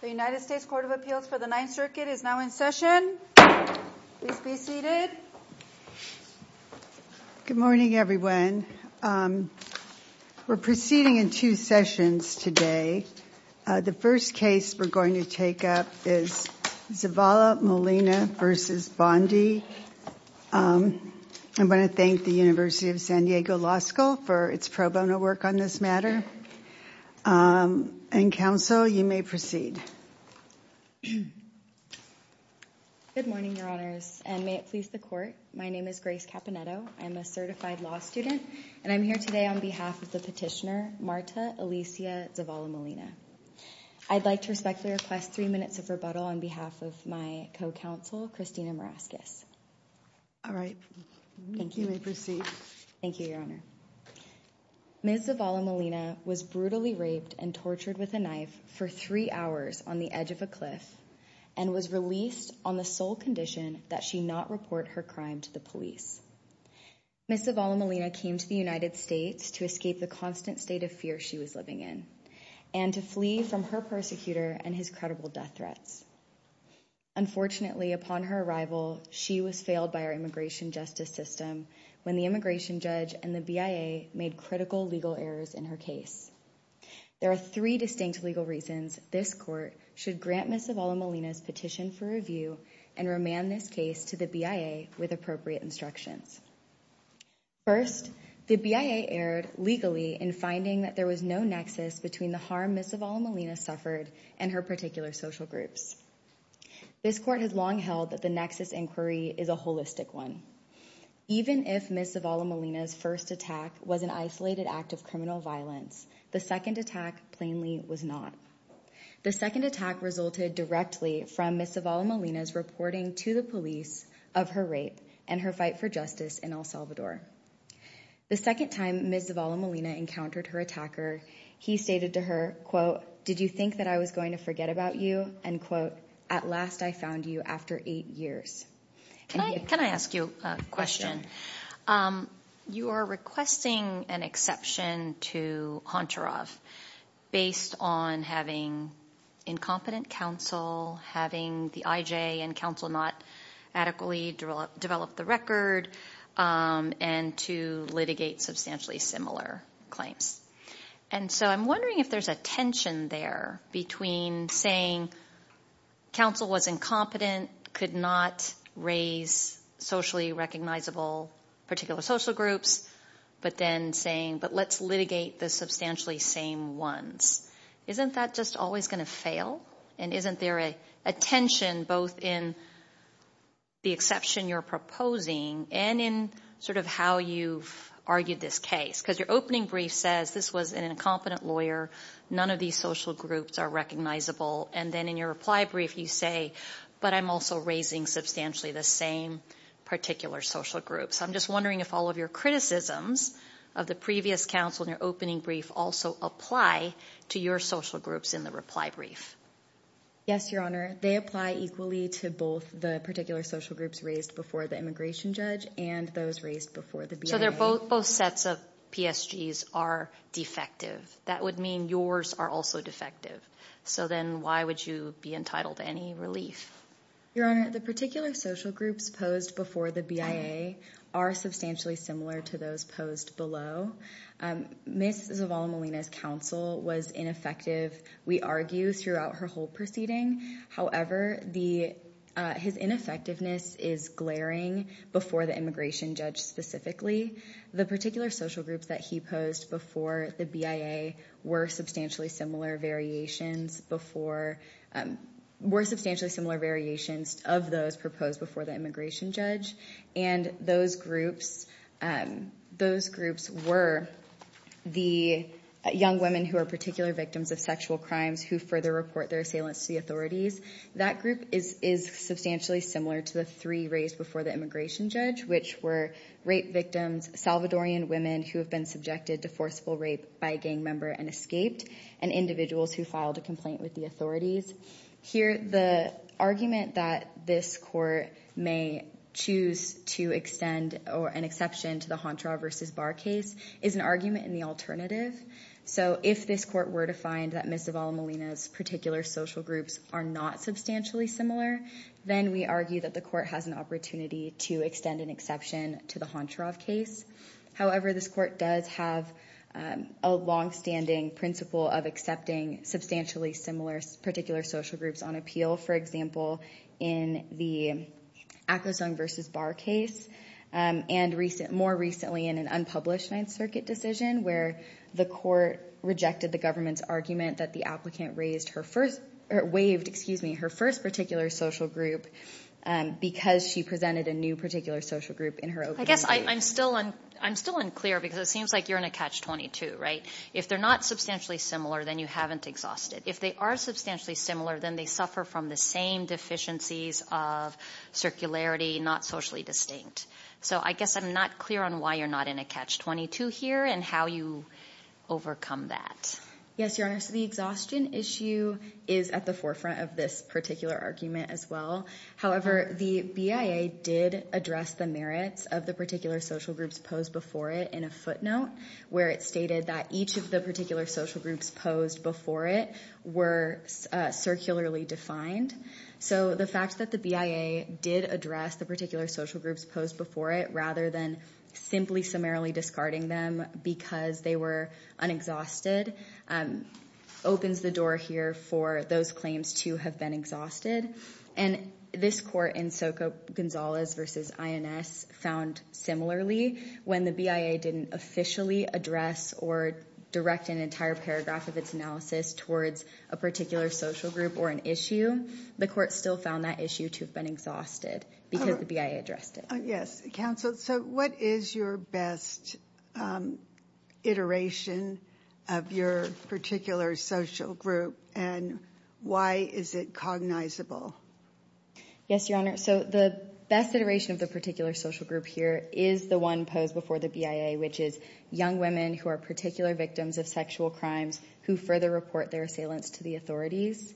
The United States Court of Appeals for the Ninth Circuit is now in session. Please be seated. Good morning, everyone. We're proceeding in two sessions today. The first case we're going to take up is Zavala-Molina v. Bondi. I'm going to thank the University of San Diego Law School for its pro bono work on this matter. And counsel, you may proceed. Good morning, Your Honors, and may it please the court. My name is Grace Caponnetto. I'm a certified law student. And I'm here today on behalf of the petitioner, Marta Alicia Zavala-Molina. I'd like to respectfully request three minutes of rebuttal on behalf of my co-counsel, Christina Maraskis. All right. You may proceed. Thank you, Your Honor. Ms. Zavala-Molina was brutally raped and tortured with a knife for three hours on the edge of a cliff and was released on the sole condition that she not report her crime to the police. Ms. Zavala-Molina came to the United States to escape the constant state of fear she was living in. And to flee from her persecutor and his credible death threats. Unfortunately, upon her arrival, she was failed by our immigration justice system when the immigration judge and the BIA made critical legal errors in her case. There are three distinct legal reasons this court should grant Ms. Zavala-Molina's petition for review and remand this case to the BIA with appropriate instructions. First, the BIA erred legally in finding that there was no nexus between the harm Ms. Zavala-Molina suffered and her particular social groups. This court has long held that the nexus inquiry is a holistic one. Even if Ms. Zavala-Molina's first attack was an isolated act of criminal violence, the second attack plainly was not. The second attack resulted directly from Ms. Zavala-Molina's reporting to the police of her rape and her fight for justice in El Salvador. The second time Ms. Zavala-Molina encountered her attacker, he stated to her, quote, did you think that I was going to forget about you? And quote, at last I found you after eight years. Can I ask you a question? You are requesting an exception to Honcharoff based on having incompetent counsel, having the IJ and counsel not adequately develop the record, and to litigate substantially similar claims. And so I'm wondering if there's a tension there between saying counsel was incompetent, could not raise socially recognizable particular social groups, but then saying, but let's litigate the substantially same ones. Isn't that just always going to fail? And isn't there a tension both in the exception you're proposing and in sort of how you've argued this case? Because your opening brief says this was an incompetent lawyer, none of these social groups are recognizable, and then in your reply brief you say, but I'm also raising substantially the same particular social groups. I'm just wondering if all of your criticisms of the previous counsel in your opening brief also apply to your social groups in the reply brief. Yes, Your Honor. They apply equally to both the particular social groups raised before the immigration judge and those raised before the BIA. So both sets of PSGs are defective. That would mean yours are also defective. So then why would you be entitled to any relief? Your Honor, the particular social groups posed before the BIA are substantially similar to those posed below. Ms. Zavala-Molina's counsel was ineffective, we argue, throughout her whole proceeding. However, his ineffectiveness is glaring before the immigration judge specifically. The particular social groups that he posed before the BIA were substantially similar variations of those proposed before the immigration judge, and those groups were the young women who are particular victims of sexual crimes who further report their assailants to the authorities. That group is substantially similar to the three raised before the immigration judge, which were rape victims, Salvadorian women who have been subjected to forceful rape by a gang member and escaped, and individuals who filed a complaint with the authorities. Here, the argument that this court may choose to extend an exception to the Hontra v. Barr case is an argument in the alternative. So if this court were to find that Ms. Zavala-Molina's particular social groups are not substantially similar, then we argue that the court has an opportunity to extend an exception to the Hontra v. Barr case. However, this court does have a long-standing principle of accepting substantially similar particular social groups on appeal. For example, in the Akhlesund v. Barr case, and more recently in an unpublished Ninth Circuit decision, where the court rejected the government's argument that the applicant waived her first particular social group because she presented a new particular social group in her opening statement. I guess I'm still unclear because it seems like you're in a Catch-22, right? If they're not substantially similar, then you haven't exhausted. If they are substantially similar, then they suffer from the same deficiencies of circularity, not socially distinct. So I guess I'm not clear on why you're not in a Catch-22 here and how you overcome that. Yes, Your Honor. So the exhaustion issue is at the forefront of this particular argument as well. However, the BIA did address the merits of the particular social groups posed before it in a footnote, where it stated that each of the particular social groups posed before it were circularly defined. So the fact that the BIA did address the particular social groups posed before it, rather than simply summarily discarding them because they were unexhausted, opens the door here for those claims to have been exhausted. And this court in Soka Gonzalez v. INS found similarly. When the BIA didn't officially address or direct an entire paragraph of its analysis towards a particular social group or an issue, the court still found that issue to have been exhausted because the BIA addressed it. Yes, Counsel. So what is your best iteration of your particular social group, and why is it cognizable? Yes, Your Honor. So the best iteration of the particular social group here is the one posed before the BIA, which is young women who are particular victims of sexual crimes who further report their assailants to the authorities.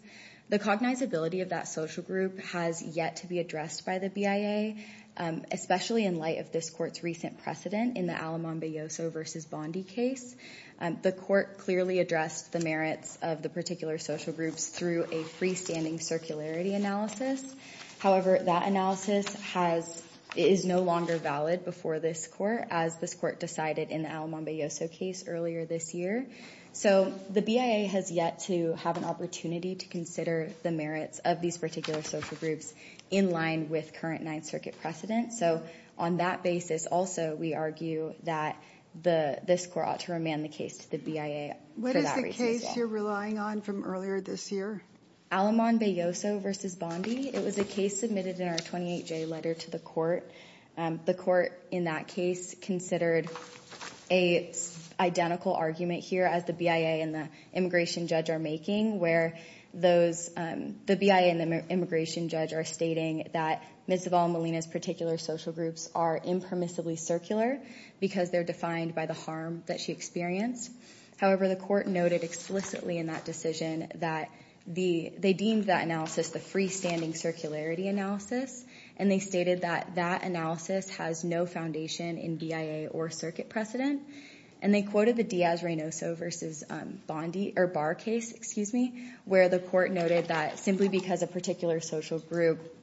The cognizability of that social group has yet to be addressed by the BIA, especially in light of this court's recent precedent in the Alamambeyoso v. Bondi case. The court clearly addressed the merits of the particular social groups through a freestanding circularity analysis. However, that analysis is no longer valid before this court, as this court decided in the Alamambeyoso case earlier this year. So the BIA has yet to have an opportunity to consider the merits of these particular social groups in line with current Ninth Circuit precedent. So on that basis, also, we argue that this court ought to remand the case to the BIA. What is the case you're relying on from earlier this year? Alamambeyoso v. Bondi. It was a case submitted in our 28-J letter to the court. The court in that case considered an identical argument here as the BIA and the immigration judge are making, where the BIA and the immigration judge are stating that Ms. Zavala-Molina's particular social groups are impermissibly circular because they're defined by the harm that she experienced. However, the court noted explicitly in that decision that they deemed that analysis the freestanding circularity analysis, and they stated that that analysis has no foundation in BIA or circuit precedent. And they quoted the Diaz-Reynoso v. Bondi, or Barr case, excuse me, where the court noted that simply because a particular social group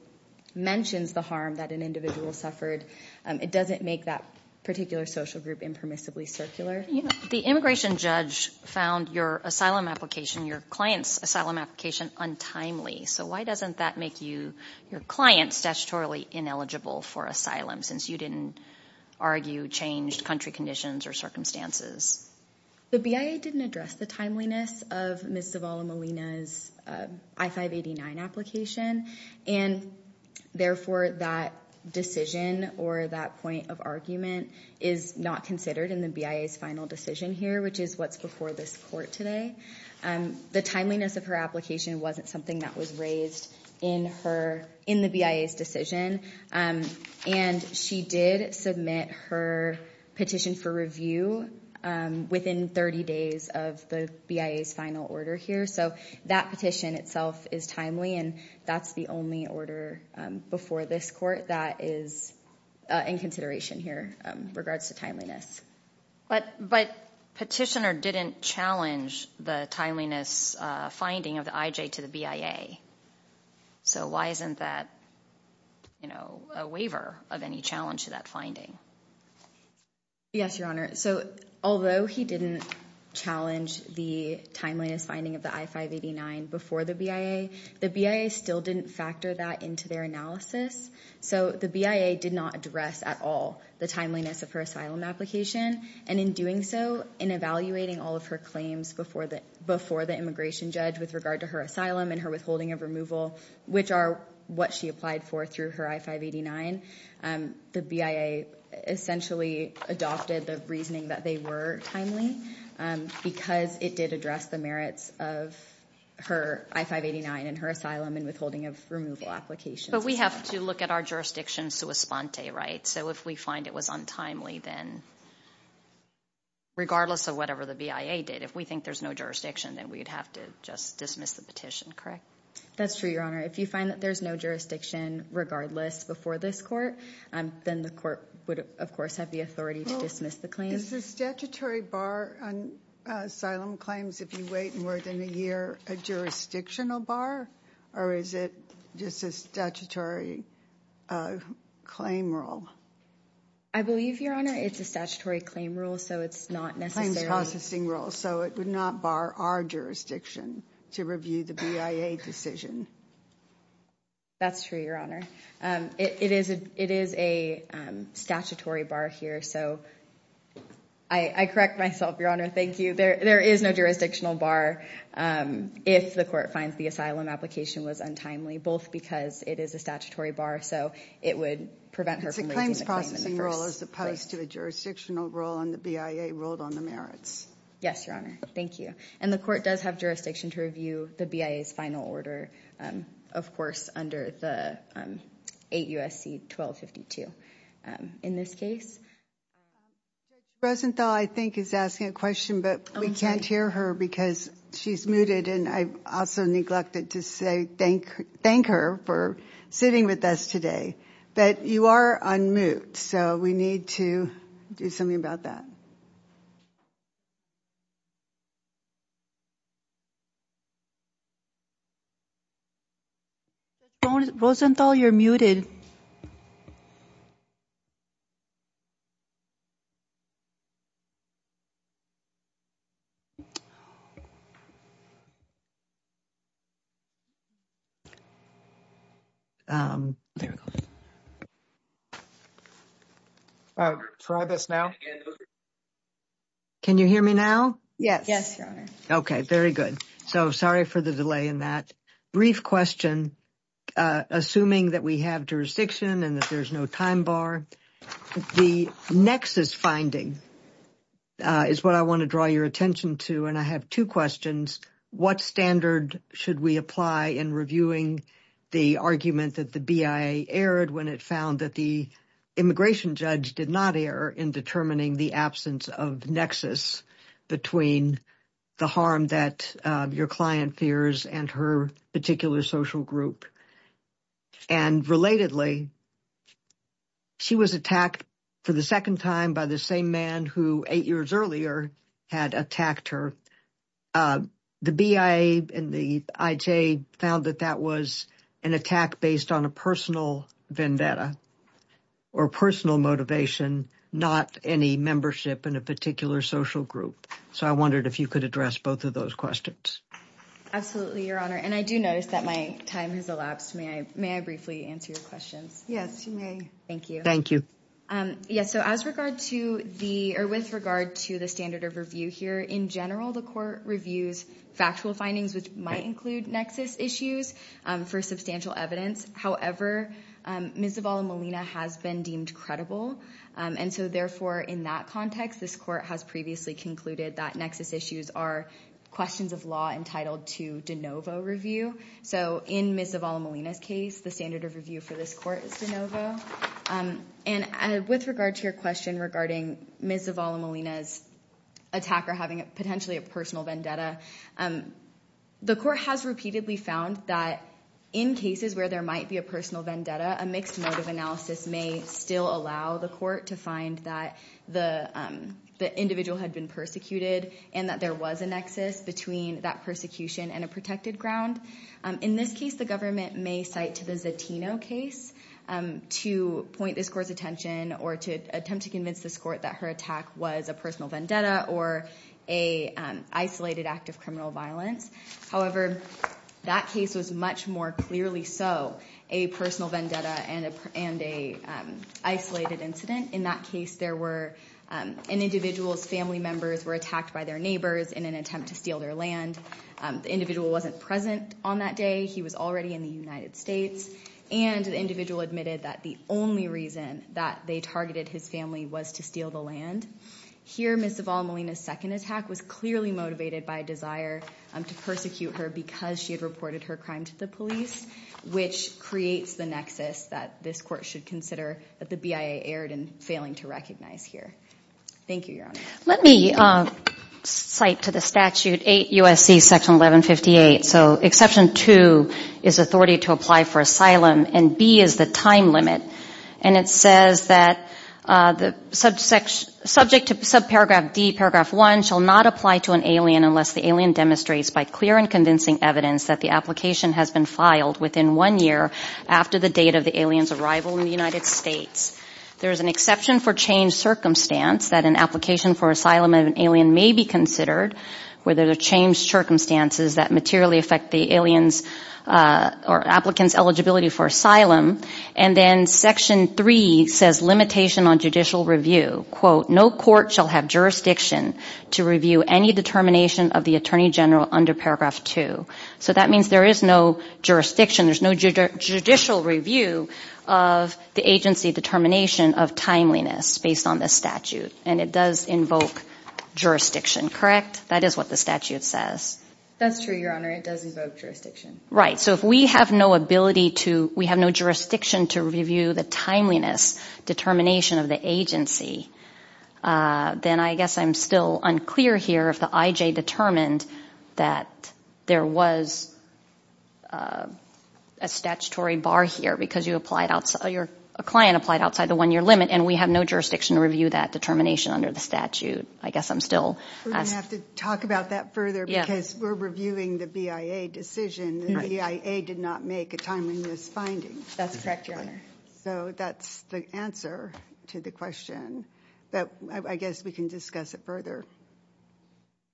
mentions the harm that an individual suffered, it doesn't make that particular social group impermissibly circular. The immigration judge found your asylum application, your client's asylum application, untimely. So why doesn't that make your client statutorily ineligible for asylum, since you didn't argue changed country conditions or circumstances? The BIA didn't address the timeliness of Ms. Zavala-Molina's I-589 application, and therefore that decision or that point of argument is not considered in the BIA's final decision here, which is what's before this court today. The timeliness of her application wasn't something that was raised in the BIA's decision, and she did submit her petition for review within 30 days of the BIA's final order here. So that petition itself is timely, and that's the only order before this court that is in consideration here in regards to timeliness. But Petitioner didn't challenge the timeliness finding of the IJ to the BIA. So why isn't that a waiver of any challenge to that finding? Yes, Your Honor. So although he didn't challenge the timeliness finding of the I-589 before the BIA, the BIA still didn't factor that into their analysis. So the BIA did not address at all the timeliness of her asylum application, and in doing so, in evaluating all of her claims before the immigration judge with regard to her asylum and her withholding of removal, which are what she applied for through her I-589, the BIA essentially adopted the reasoning that they were timely because it did address the merits of her I-589 and her asylum and withholding of removal applications. But we have to look at our jurisdiction sua sponte, right? So if we find it was untimely, then regardless of whatever the BIA did, if we think there's no jurisdiction, then we'd have to just dismiss the petition, correct? That's true, Your Honor. If you find that there's no jurisdiction regardless before this court, then the court would, of course, have the authority to dismiss the claim. Is the statutory bar on asylum claims, if you wait more than a year, a jurisdictional bar, or is it just a statutory claim rule? I believe, Your Honor, it's a statutory claim rule, so it's not necessarily. Claims processing rule, so it would not bar our jurisdiction to review the BIA decision. That's true, Your Honor. It is a statutory bar here, so I correct myself, Your Honor, thank you. There is no jurisdictional bar if the court finds the asylum application was untimely, both because it is a statutory bar, so it would prevent her from raising the claim in the first place. It's a claims processing rule as opposed to a jurisdictional rule, and the BIA ruled on the merits. Yes, Your Honor, thank you. And the court does have jurisdiction to review the BIA's final order, of course, under the 8 U.S.C. 1252 in this case. Rosenthal, I think, is asking a question, but we can't hear her because she's muted, and I also neglected to thank her for sitting with us today. But you are on mute, so we need to do something about that. Rosenthal, you're muted. There we go. Try this now. Can you hear me now? Yes. Yes, Your Honor. Okay, very good. So sorry for the delay in that. Brief question. Assuming that we have jurisdiction and that there's no time bar, the nexus finding is what I want to draw your attention to, and I have two questions. What standard should we apply in reviewing the argument that the BIA erred when it found that the immigration judge did not err in determining the absence of nexus between the harm that your client fears and her particular social group? And relatedly, she was attacked for the second time by the same man who, eight years earlier, had attacked her. The BIA and the IJ found that that was an attack based on a personal vendetta or personal motivation, not any membership in a particular social group. So I wondered if you could address both of those questions. Absolutely, Your Honor, and I do notice that my time has elapsed. May I briefly answer your questions? Yes, you may. Thank you. Yes, so with regard to the standard of review here, in general, the court reviews factual findings, which might include nexus issues, for substantial evidence. However, Ms. Zavala-Molina has been deemed credible, and so therefore, in that context, this court has previously concluded that nexus issues are questions of law entitled to de novo review. So in Ms. Zavala-Molina's case, the standard of review for this court is de novo. And with regard to your question regarding Ms. Zavala-Molina's attack or having potentially a personal vendetta, the court has repeatedly found that in cases where there might be a personal vendetta, a mixed motive analysis may still allow the court to find that the individual had been persecuted and that there was a nexus between that persecution and a protected ground. In this case, the government may cite to the Zatino case to point this court's attention or to attempt to convince this court that her attack was a personal vendetta or an isolated act of criminal violence. However, that case was much more clearly so a personal vendetta and an isolated incident. In that case, an individual's family members were attacked by their neighbors in an attempt to steal their land. The individual wasn't present on that day. He was already in the United States. And the individual admitted that the only reason that they targeted his family was to steal the land. Here, Ms. Zavala-Molina's second attack was clearly motivated by a desire to persecute her because she had reported her crime to the police, which creates the nexus that this court should consider that the BIA erred in failing to recognize here. Thank you, Your Honor. Let me cite to the statute 8 U.S.C. Section 1158. So Exception 2 is authority to apply for asylum and B is the time limit. And it says that subject to subparagraph D, paragraph 1, shall not apply to an alien unless the alien demonstrates by clear and convincing evidence that the application has been filed within one year after the date of the alien's arrival in the United States. There is an exception for changed circumstance that an application for asylum of an alien may be considered, where there are changed circumstances that materially affect the alien's or applicant's eligibility for asylum. And then Section 3 says limitation on judicial review. Quote, no court shall have jurisdiction to review any determination of the attorney general under paragraph 2. So that means there is no jurisdiction. There's no judicial review of the agency determination of timeliness based on this statute. And it does invoke jurisdiction, correct? That is what the statute says. That's true, Your Honor. It does invoke jurisdiction. Right. So if we have no ability to, we have no jurisdiction to review the timeliness determination of the agency, then I guess I'm still unclear here if the IJ determined that there was a statutory bar here because a client applied outside the one-year limit, and we have no jurisdiction to review that determination under the statute. I guess I'm still asking. We're going to have to talk about that further because we're reviewing the BIA decision. The BIA did not make a timeliness finding. That's correct, Your Honor. So that's the answer to the question. But I guess we can discuss it further.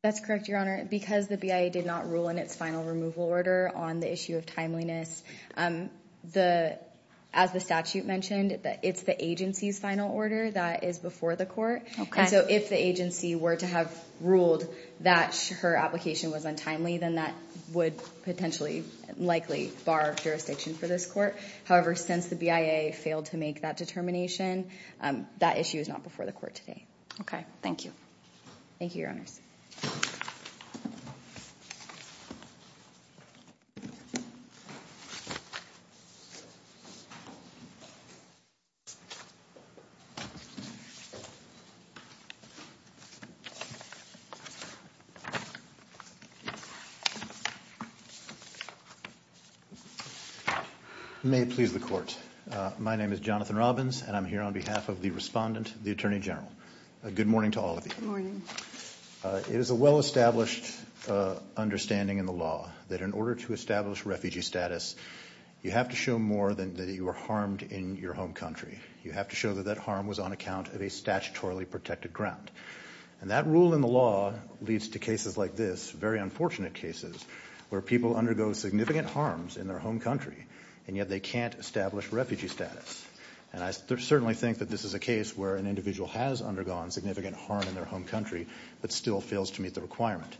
That's correct, Your Honor. Because the BIA did not rule in its final removal order on the issue of timeliness, as the statute mentioned, it's the agency's final order that is before the court. And so if the agency were to have ruled that her application was untimely, then that would potentially likely bar jurisdiction for this court. However, since the BIA failed to make that determination, that issue is not before the court today. Okay. Thank you. Thank you, Your Honors. My name is Jonathan Robbins, and I'm here on behalf of the respondent, the Attorney General. Good morning to all of you. It is a well-established understanding in the law that in order to establish refugee status, you have to show more than that you were harmed in your home country. You have to show that that harm was on account of a statutorily protected ground. And that rule in the law leads to cases like this, very unfortunate cases, where people undergo significant harms in their home country, and yet they can't establish refugee status. And I certainly think that this is a case where an individual has undergone significant harm in their home country but still fails to meet the requirement.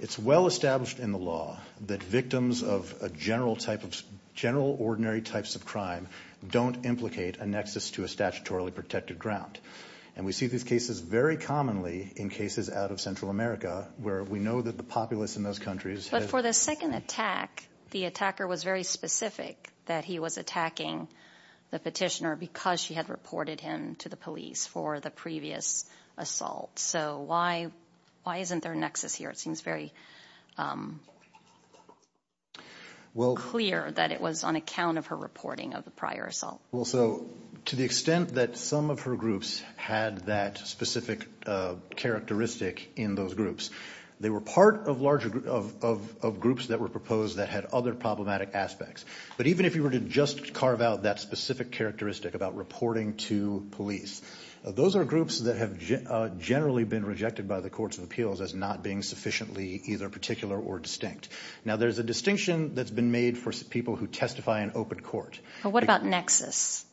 It's well-established in the law that victims of general ordinary types of crime don't implicate a nexus to a statutorily protected ground. And we see these cases very commonly in cases out of Central America where we know that the populace in those countries has been— In the second attack, the attacker was very specific that he was attacking the petitioner because she had reported him to the police for the previous assault. So why isn't there a nexus here? It seems very clear that it was on account of her reporting of the prior assault. Well, so to the extent that some of her groups had that specific characteristic in those groups, they were part of groups that were proposed that had other problematic aspects. But even if you were to just carve out that specific characteristic about reporting to police, those are groups that have generally been rejected by the courts of appeals as not being sufficiently either particular or distinct. Now there's a distinction that's been made for people who testify in open court. But what about nexus?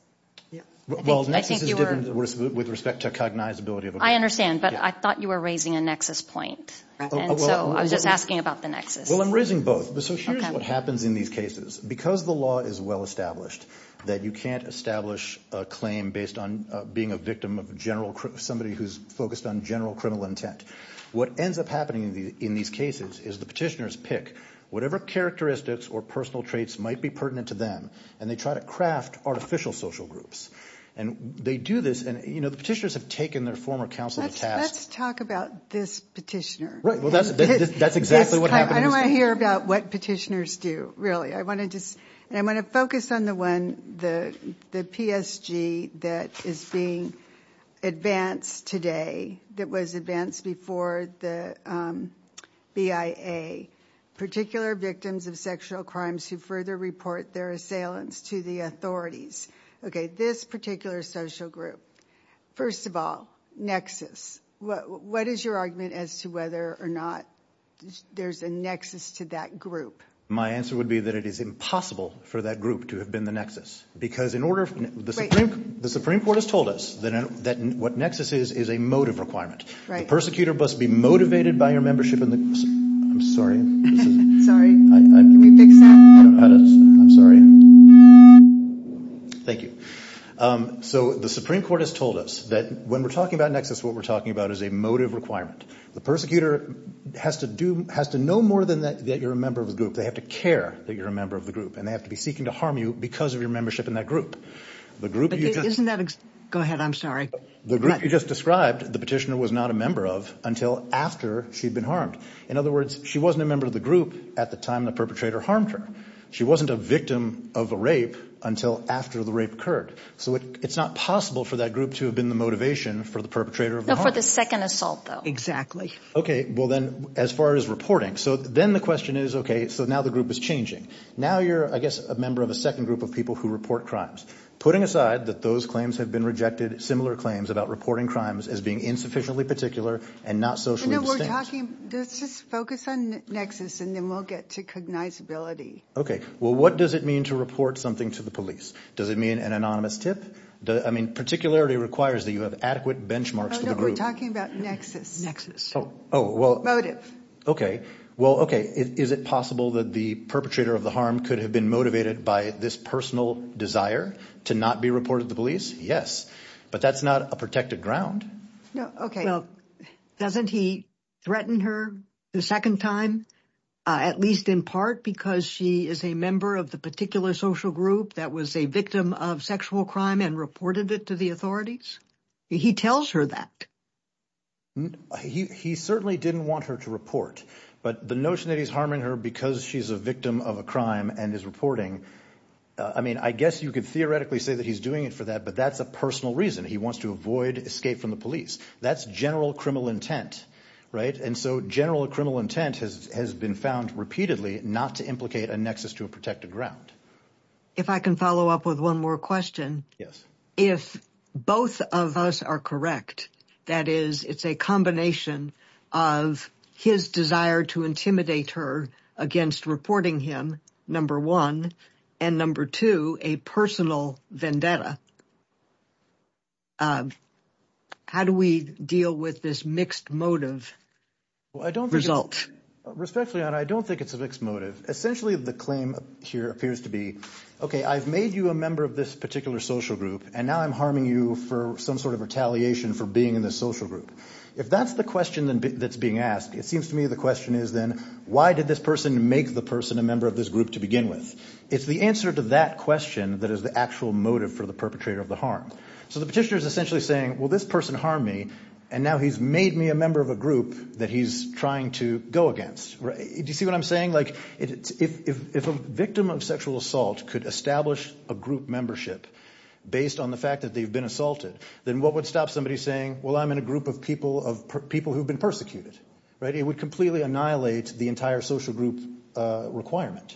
Well, nexus is different with respect to cognizability of a group. I understand, but I thought you were raising a nexus point. And so I was just asking about the nexus. Well, I'm raising both. So here's what happens in these cases. Because the law is well established that you can't establish a claim based on being a victim of somebody who's focused on general criminal intent, what ends up happening in these cases is the petitioners pick whatever characteristics or personal traits might be pertinent to them, and they try to craft artificial social groups. And they do this, and the petitioners have taken their former counsel to task. Let's talk about this petitioner. That's exactly what happened in this case. I don't want to hear about what petitioners do, really. I want to focus on the one, the PSG, that is being advanced today, that was advanced before the BIA, particular victims of sexual crimes who further report their assailants to the authorities. Okay, this particular social group. First of all, nexus. What is your argument as to whether or not there's a nexus to that group? My answer would be that it is impossible for that group to have been the nexus. Because in order for the Supreme Court has told us that what nexus is is a motive requirement. The persecutor must be motivated by your membership in the I'm sorry. Sorry. Can we fix that? I'm sorry. Thank you. So the Supreme Court has told us that when we're talking about nexus, what we're talking about is a motive requirement. The persecutor has to know more than that you're a member of the group. They have to care that you're a member of the group, and they have to be seeking to harm you because of your membership in that group. But isn't that, go ahead, I'm sorry. The group you just described, the petitioner was not a member of until after she'd been harmed. In other words, she wasn't a member of the group at the time the perpetrator harmed her. She wasn't a victim of a rape until after the rape occurred. So it's not possible for that group to have been the motivation for the perpetrator of the harm. No, for the second assault, though. Exactly. Okay. Well, then, as far as reporting. So then the question is, okay, so now the group is changing. Now you're, I guess, a member of a second group of people who report crimes. Putting aside that those claims have been rejected, similar claims about reporting crimes as being insufficiently particular and not socially distinct. Let's just focus on nexus, and then we'll get to cognizability. Okay. Well, what does it mean to report something to the police? Does it mean an anonymous tip? I mean, particularity requires that you have adequate benchmarks for the group. No, we're talking about nexus. Nexus. Oh, well. Motive. Okay. Well, okay, is it possible that the perpetrator of the harm could have been motivated by this personal desire to not be reported to the police? Yes. But that's not a protected ground. No, okay. Well, doesn't he threaten her the second time, at least in part, because she is a member of the particular social group that was a victim of sexual crime and reported it to the authorities? He tells her that. He certainly didn't want her to report. But the notion that he's harming her because she's a victim of a crime and is reporting, I mean, I guess you could theoretically say that he's doing it for that, but that's a personal reason. He wants to avoid escape from the police. That's general criminal intent, right? And so general criminal intent has been found repeatedly not to implicate a nexus to a protected ground. If I can follow up with one more question. Yes. If both of us are correct, that is, it's a combination of his desire to intimidate her against reporting him, number one, and number two, a personal vendetta, how do we deal with this mixed motive result? Respectfully, I don't think it's a mixed motive. Essentially, the claim here appears to be, okay, I've made you a member of this particular social group, and now I'm harming you for some sort of retaliation for being in this social group. If that's the question that's being asked, it seems to me the question is then, why did this person make the person a member of this group to begin with? It's the answer to that question that is the actual motive for the perpetrator of the harm. So the petitioner is essentially saying, well, this person harmed me, and now he's made me a member of a group that he's trying to go against. Do you see what I'm saying? If a victim of sexual assault could establish a group membership based on the fact that they've been assaulted, then what would stop somebody saying, well, I'm in a group of people who have been persecuted? It would completely annihilate the entire social group requirement.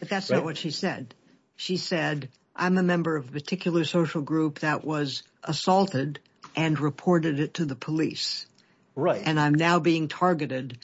But that's not what she said. She said, I'm a member of a particular social group that was assaulted and reported it to the police. Right. And I'm now being targeted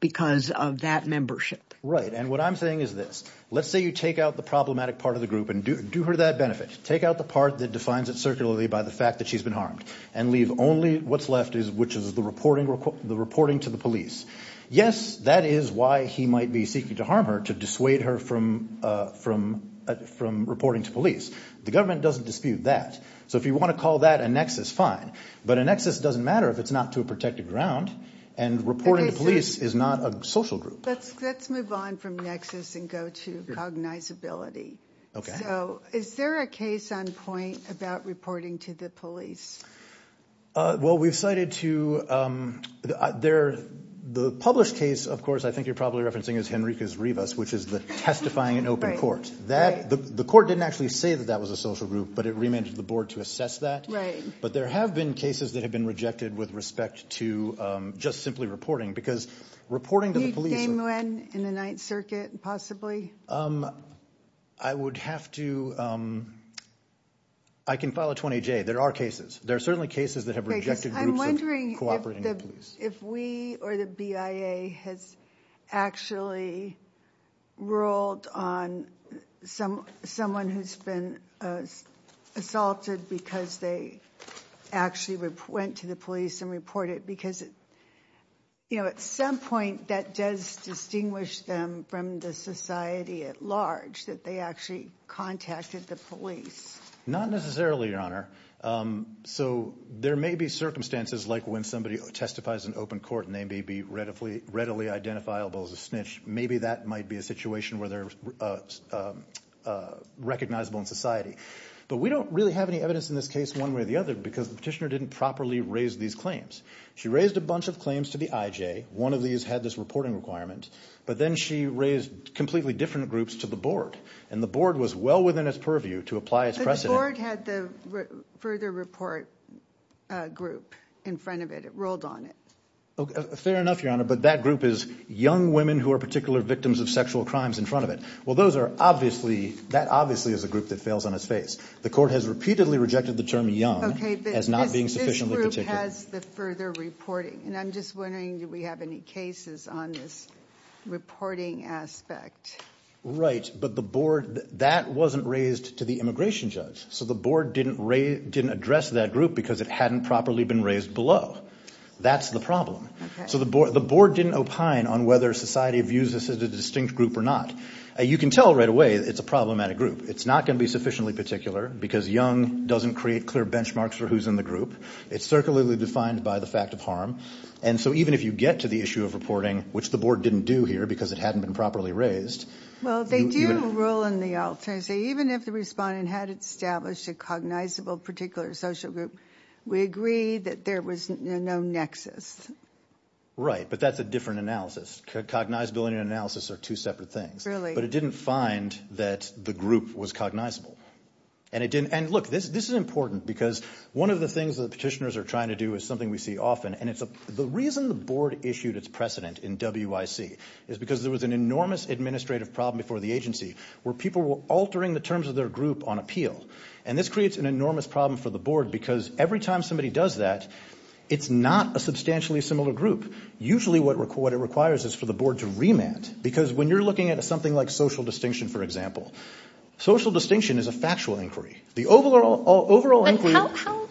because of that membership. Right, and what I'm saying is this. Let's say you take out the problematic part of the group and do her that benefit. Take out the part that defines it circularly by the fact that she's been harmed and leave only what's left, which is the reporting to the police. Yes, that is why he might be seeking to harm her, to dissuade her from reporting to police. The government doesn't dispute that. So if you want to call that a nexus, fine. But a nexus doesn't matter if it's not to a protected ground, and reporting to police is not a social group. Let's move on from nexus and go to cognizability. Okay. So is there a case on point about reporting to the police? Well, we've cited two. The published case, of course, I think you're probably referencing is Henriquez-Rivas, which is the testifying in open court. The court didn't actually say that that was a social group, but it remanded the board to assess that. Right. But there have been cases that have been rejected with respect to just simply reporting, because reporting to the police. Name when in the Ninth Circuit, possibly? I would have to, I can file a 20-J. There are cases. There are certainly cases that have rejected groups of cooperating police. I'm wondering if we or the BIA has actually ruled on someone who's been assaulted because they actually went to the police and reported. Because at some point, that does distinguish them from the society at large, that they actually contacted the police. Not necessarily, Your Honor. So there may be circumstances like when somebody testifies in open court, and they may be readily identifiable as a snitch. Maybe that might be a situation where they're recognizable in society. But we don't really have any evidence in this case one way or the other, because the petitioner didn't properly raise these claims. She raised a bunch of claims to the IJ. One of these had this reporting requirement. But then she raised completely different groups to the board. And the board was well within its purview to apply its precedent. But the board had the further report group in front of it. It ruled on it. Fair enough, Your Honor. But that group is young women who are particular victims of sexual crimes in front of it. Well, that obviously is a group that fails on its face. The court has repeatedly rejected the term young as not being sufficiently particular. Okay, but this group has the further reporting. And I'm just wondering, do we have any cases on this reporting aspect? Right, but that wasn't raised to the immigration judge. So the board didn't address that group because it hadn't properly been raised below. That's the problem. So the board didn't opine on whether society views this as a distinct group or not. You can tell right away it's a problematic group. It's not going to be sufficiently particular because young doesn't create clear benchmarks for who's in the group. It's circularly defined by the fact of harm. And so even if you get to the issue of reporting, which the board didn't do here because it hadn't been properly raised. Well, they do rule in the alternative. Even if the respondent had established a cognizable particular social group, we agree that there was no nexus. Right, but that's a different analysis. Cognizability and analysis are two separate things. But it didn't find that the group was cognizable. And, look, this is important because one of the things that petitioners are trying to do is something we see often, and it's the reason the board issued its precedent in WIC is because there was an enormous administrative problem before the agency where people were altering the terms of their group on appeal. And this creates an enormous problem for the board because every time somebody does that, it's not a substantially similar group. Usually what it requires is for the board to remand because when you're looking at something like social distinction, for example, social distinction is a factual inquiry. But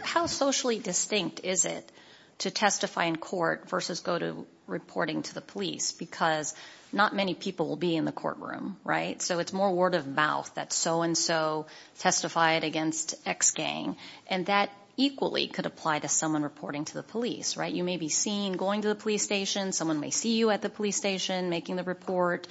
how socially distinct is it to testify in court versus go to reporting to the police because not many people will be in the courtroom, right? So it's more word of mouth that so-and-so testified against X gang. And that equally could apply to someone reporting to the police, right? You may be seen going to the police station. Someone may see you at the police station making the report.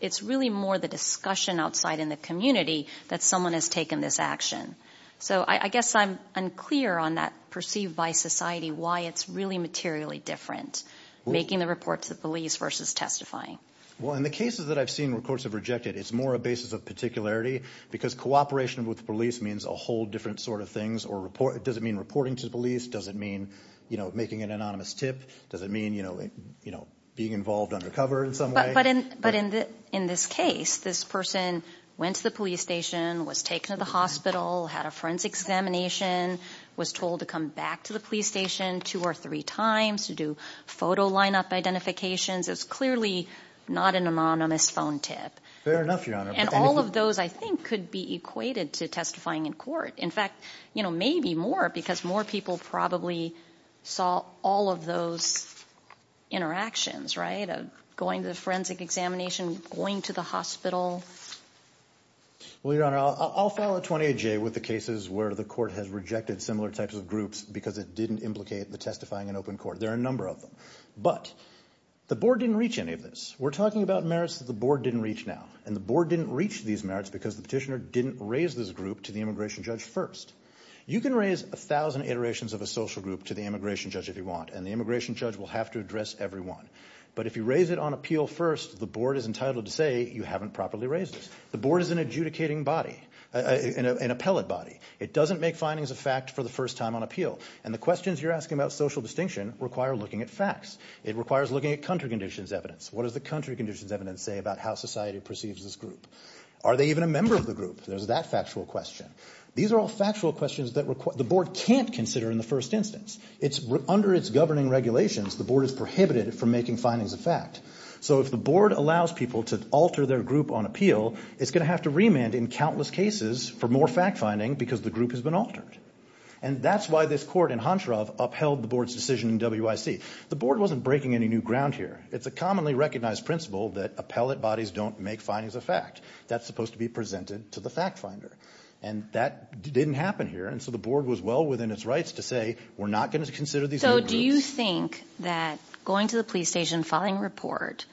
It's really more the discussion outside in the community that someone has taken this action. So I guess I'm unclear on that perceived by society why it's really materially different, making the report to the police versus testifying. Well, in the cases that I've seen where courts have rejected, it's more a basis of particularity because cooperation with police means a whole different sort of things. Does it mean reporting to the police? Does it mean making an anonymous tip? Does it mean being involved undercover in some way? But in this case, this person went to the police station, was taken to the hospital, had a forensic examination, was told to come back to the police station two or three times to do photo lineup identifications. It's clearly not an anonymous phone tip. Fair enough, Your Honor. And all of those, I think, could be equated to testifying in court. In fact, maybe more because more people probably saw all of those interactions, right? Going to the forensic examination, going to the hospital. Well, Your Honor, I'll follow 28J with the cases where the court has rejected similar types of groups because it didn't implicate the testifying in open court. There are a number of them. But the board didn't reach any of this. We're talking about merits that the board didn't reach now. And the board didn't reach these merits because the petitioner didn't raise this group to the immigration judge first. You can raise 1,000 iterations of a social group to the immigration judge if you want, and the immigration judge will have to address every one. But if you raise it on appeal first, the board is entitled to say you haven't properly raised it. The board is an adjudicating body, an appellate body. It doesn't make findings of fact for the first time on appeal. And the questions you're asking about social distinction require looking at facts. It requires looking at country conditions evidence. What does the country conditions evidence say about how society perceives this group? Are they even a member of the group? There's that factual question. These are all factual questions that the board can't consider in the first instance. Under its governing regulations, the board is prohibited from making findings of fact. So if the board allows people to alter their group on appeal, it's going to have to remand in countless cases for more fact-finding because the group has been altered. And that's why this court in Honshorov upheld the board's decision in WIC. The board wasn't breaking any new ground here. It's a commonly recognized principle that appellate bodies don't make findings of fact. That's supposed to be presented to the fact finder, and that didn't happen here. And so the board was well within its rights to say we're not going to consider these new groups. So do you think that going to the police station, filing a report,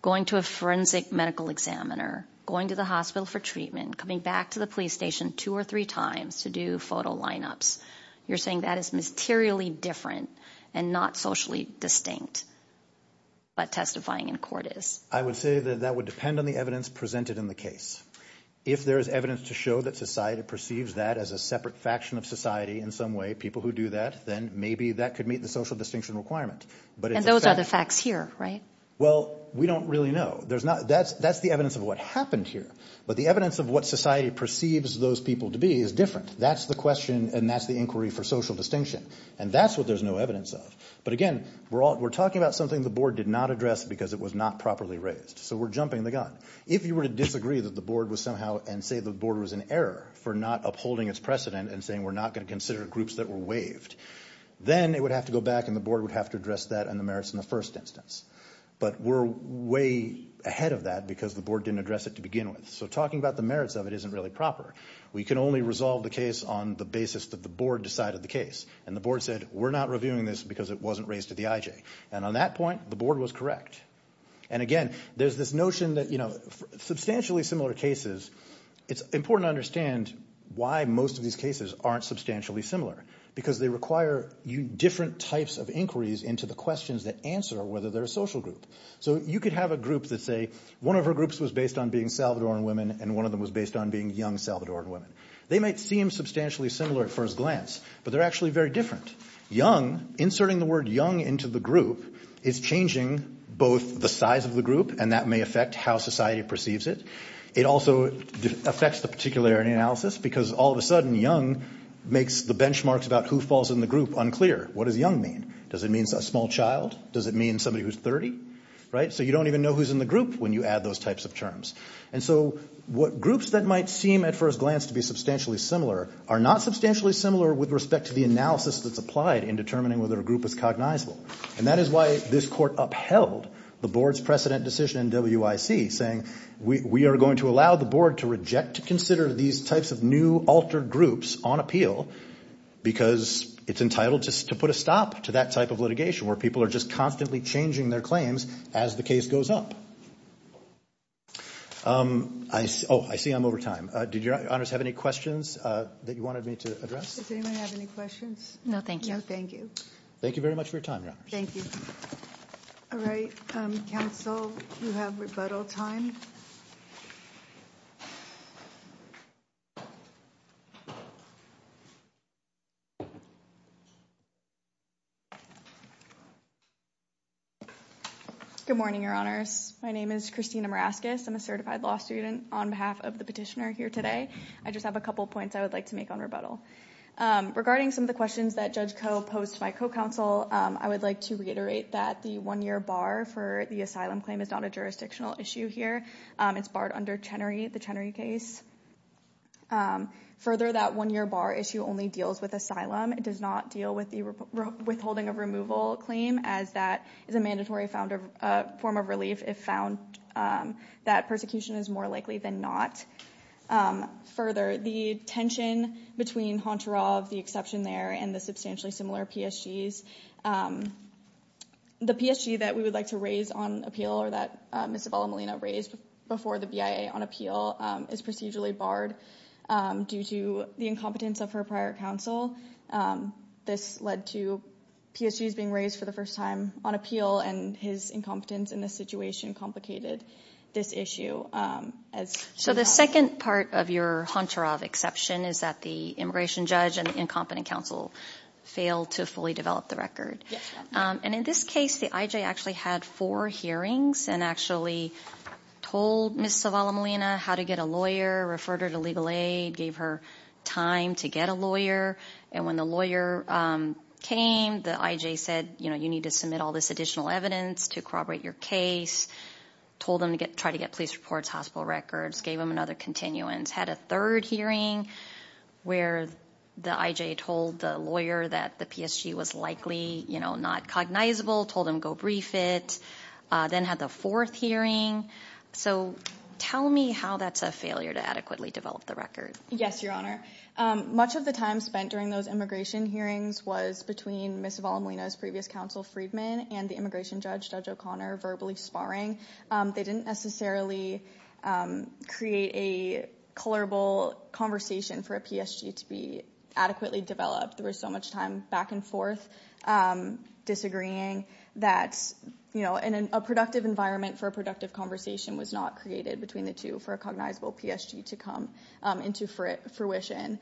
going to a forensic medical examiner, going to the hospital for treatment, coming back to the police station two or three times to do photo lineups, you're saying that is materially different and not socially distinct, but testifying in court is? I would say that that would depend on the evidence presented in the case. If there is evidence to show that society perceives that as a separate faction of society in some way, people who do that, then maybe that could meet the social distinction requirement. And those are the facts here, right? Well, we don't really know. That's the evidence of what happened here. But the evidence of what society perceives those people to be is different. That's the question, and that's the inquiry for social distinction. And that's what there's no evidence of. But, again, we're talking about something the board did not address because it was not properly raised. So we're jumping the gun. If you were to disagree that the board was somehow and say the board was in error for not upholding its precedent and saying we're not going to consider groups that were waived, then it would have to go back and the board would have to address that and the merits in the first instance. But we're way ahead of that because the board didn't address it to begin with. So talking about the merits of it isn't really proper. We can only resolve the case on the basis that the board decided the case. And the board said we're not reviewing this because it wasn't raised to the IJ. And on that point, the board was correct. And, again, there's this notion that substantially similar cases, it's important to understand why most of these cases aren't substantially similar because they require different types of inquiries into the questions that answer whether they're a social group. So you could have a group that say one of her groups was based on being Salvadoran women and one of them was based on being young Salvadoran women. They might seem substantially similar at first glance, but they're actually very different. Young, inserting the word young into the group is changing both the size of the group and that may affect how society perceives it. It also affects the particularity analysis because all of a sudden young makes the benchmarks about who falls in the group unclear. What does young mean? Does it mean a small child? Does it mean somebody who's 30? So you don't even know who's in the group when you add those types of terms. And so groups that might seem at first glance to be substantially similar are not substantially similar with respect to the analysis that's applied in determining whether a group is cognizable and that is why this court upheld the board's precedent decision in WIC saying we are going to allow the board to reject to consider these types of new altered groups on appeal because it's entitled to put a stop to that type of litigation where people are just constantly changing their claims as the case goes up. Oh, I see I'm over time. Did your honors have any questions that you wanted me to address? Does anyone have any questions? No, thank you. No, thank you. Thank you very much for your time, your honors. Thank you. All right, counsel, you have rebuttal time. Good morning, your honors. My name is Christina Maraskis. I'm a certified law student on behalf of the petitioner here today. I just have a couple points I would like to make on rebuttal. Regarding some of the questions that Judge Coe posed to my co-counsel, I would like to reiterate that the one-year bar for the asylum claim is not a jurisdictional issue here. It's barred under Chenery, the Chenery case. Further, that one-year bar issue only deals with asylum. It does not deal with the withholding of removal claim as that is a mandatory form of relief if found that persecution is more likely than not. Further, the tension between Honcharov, the exception there, and the substantially similar PSGs, the PSG that we would like to raise on appeal or that Ms. Sabella Molina raised before the BIA on appeal is procedurally barred due to the incompetence of her prior counsel. This led to PSGs being raised for the first time on appeal, and his incompetence in this situation complicated this issue. The second part of your Honcharov exception is that the immigration judge and incompetent counsel failed to fully develop the record. In this case, the IJ actually had four hearings and actually told Ms. Sabella Molina how to get a lawyer, referred her to legal aid, gave her time to get a lawyer, and when the lawyer came, the IJ said, you know, you need to submit all this additional evidence to corroborate your case, told them to try to get police reports, hospital records, gave them another continuance, had a third hearing where the IJ told the lawyer that the PSG was likely, you know, not cognizable, told him go brief it, then had the fourth hearing. So tell me how that's a failure to adequately develop the record. Yes, Your Honor. Much of the time spent during those immigration hearings was between Ms. Sabella Molina's previous counsel, Friedman, and the immigration judge, Judge O'Connor, verbally sparring. They didn't necessarily create a colorable conversation for a PSG to be adequately developed. There was so much time back and forth disagreeing that, you know, a productive environment for a productive conversation was not created between the two for a cognizable PSG to come into fruition.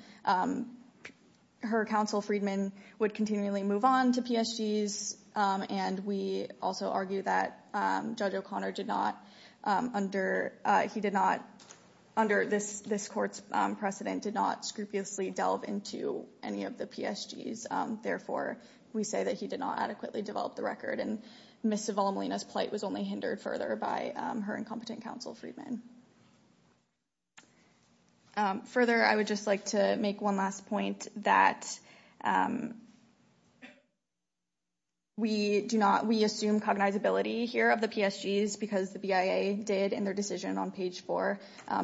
Her counsel, Friedman, would continually move on to PSGs, and we also argue that Judge O'Connor did not, under this court's precedent, did not scrupulously delve into any of the PSGs. Therefore, we say that he did not adequately develop the record, and Ms. Sabella Molina's plight was only hindered further by her incompetent counsel, Friedman. Further, I would just like to make one last point that we assume cognizability here of the PSGs because the BIA did in their decision on page four.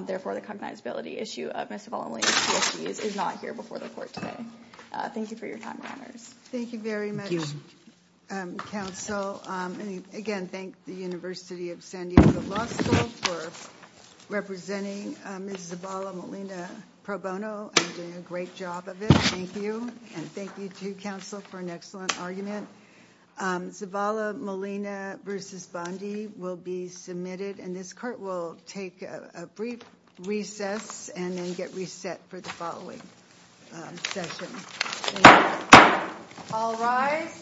Therefore, the cognizability issue of Ms. Sabella Molina's PSGs is not here before the court today. Thank you for your time, Your Honors. Thank you very much, counsel. Again, thank the University of San Diego Law School for representing Ms. Sabella Molina pro bono and doing a great job of it. Thank you, and thank you to counsel for an excellent argument. Sabella Molina v. Bondi will be submitted, and this court will take a brief recess and then get reset for the following session. All rise. Please be seated. Thank you.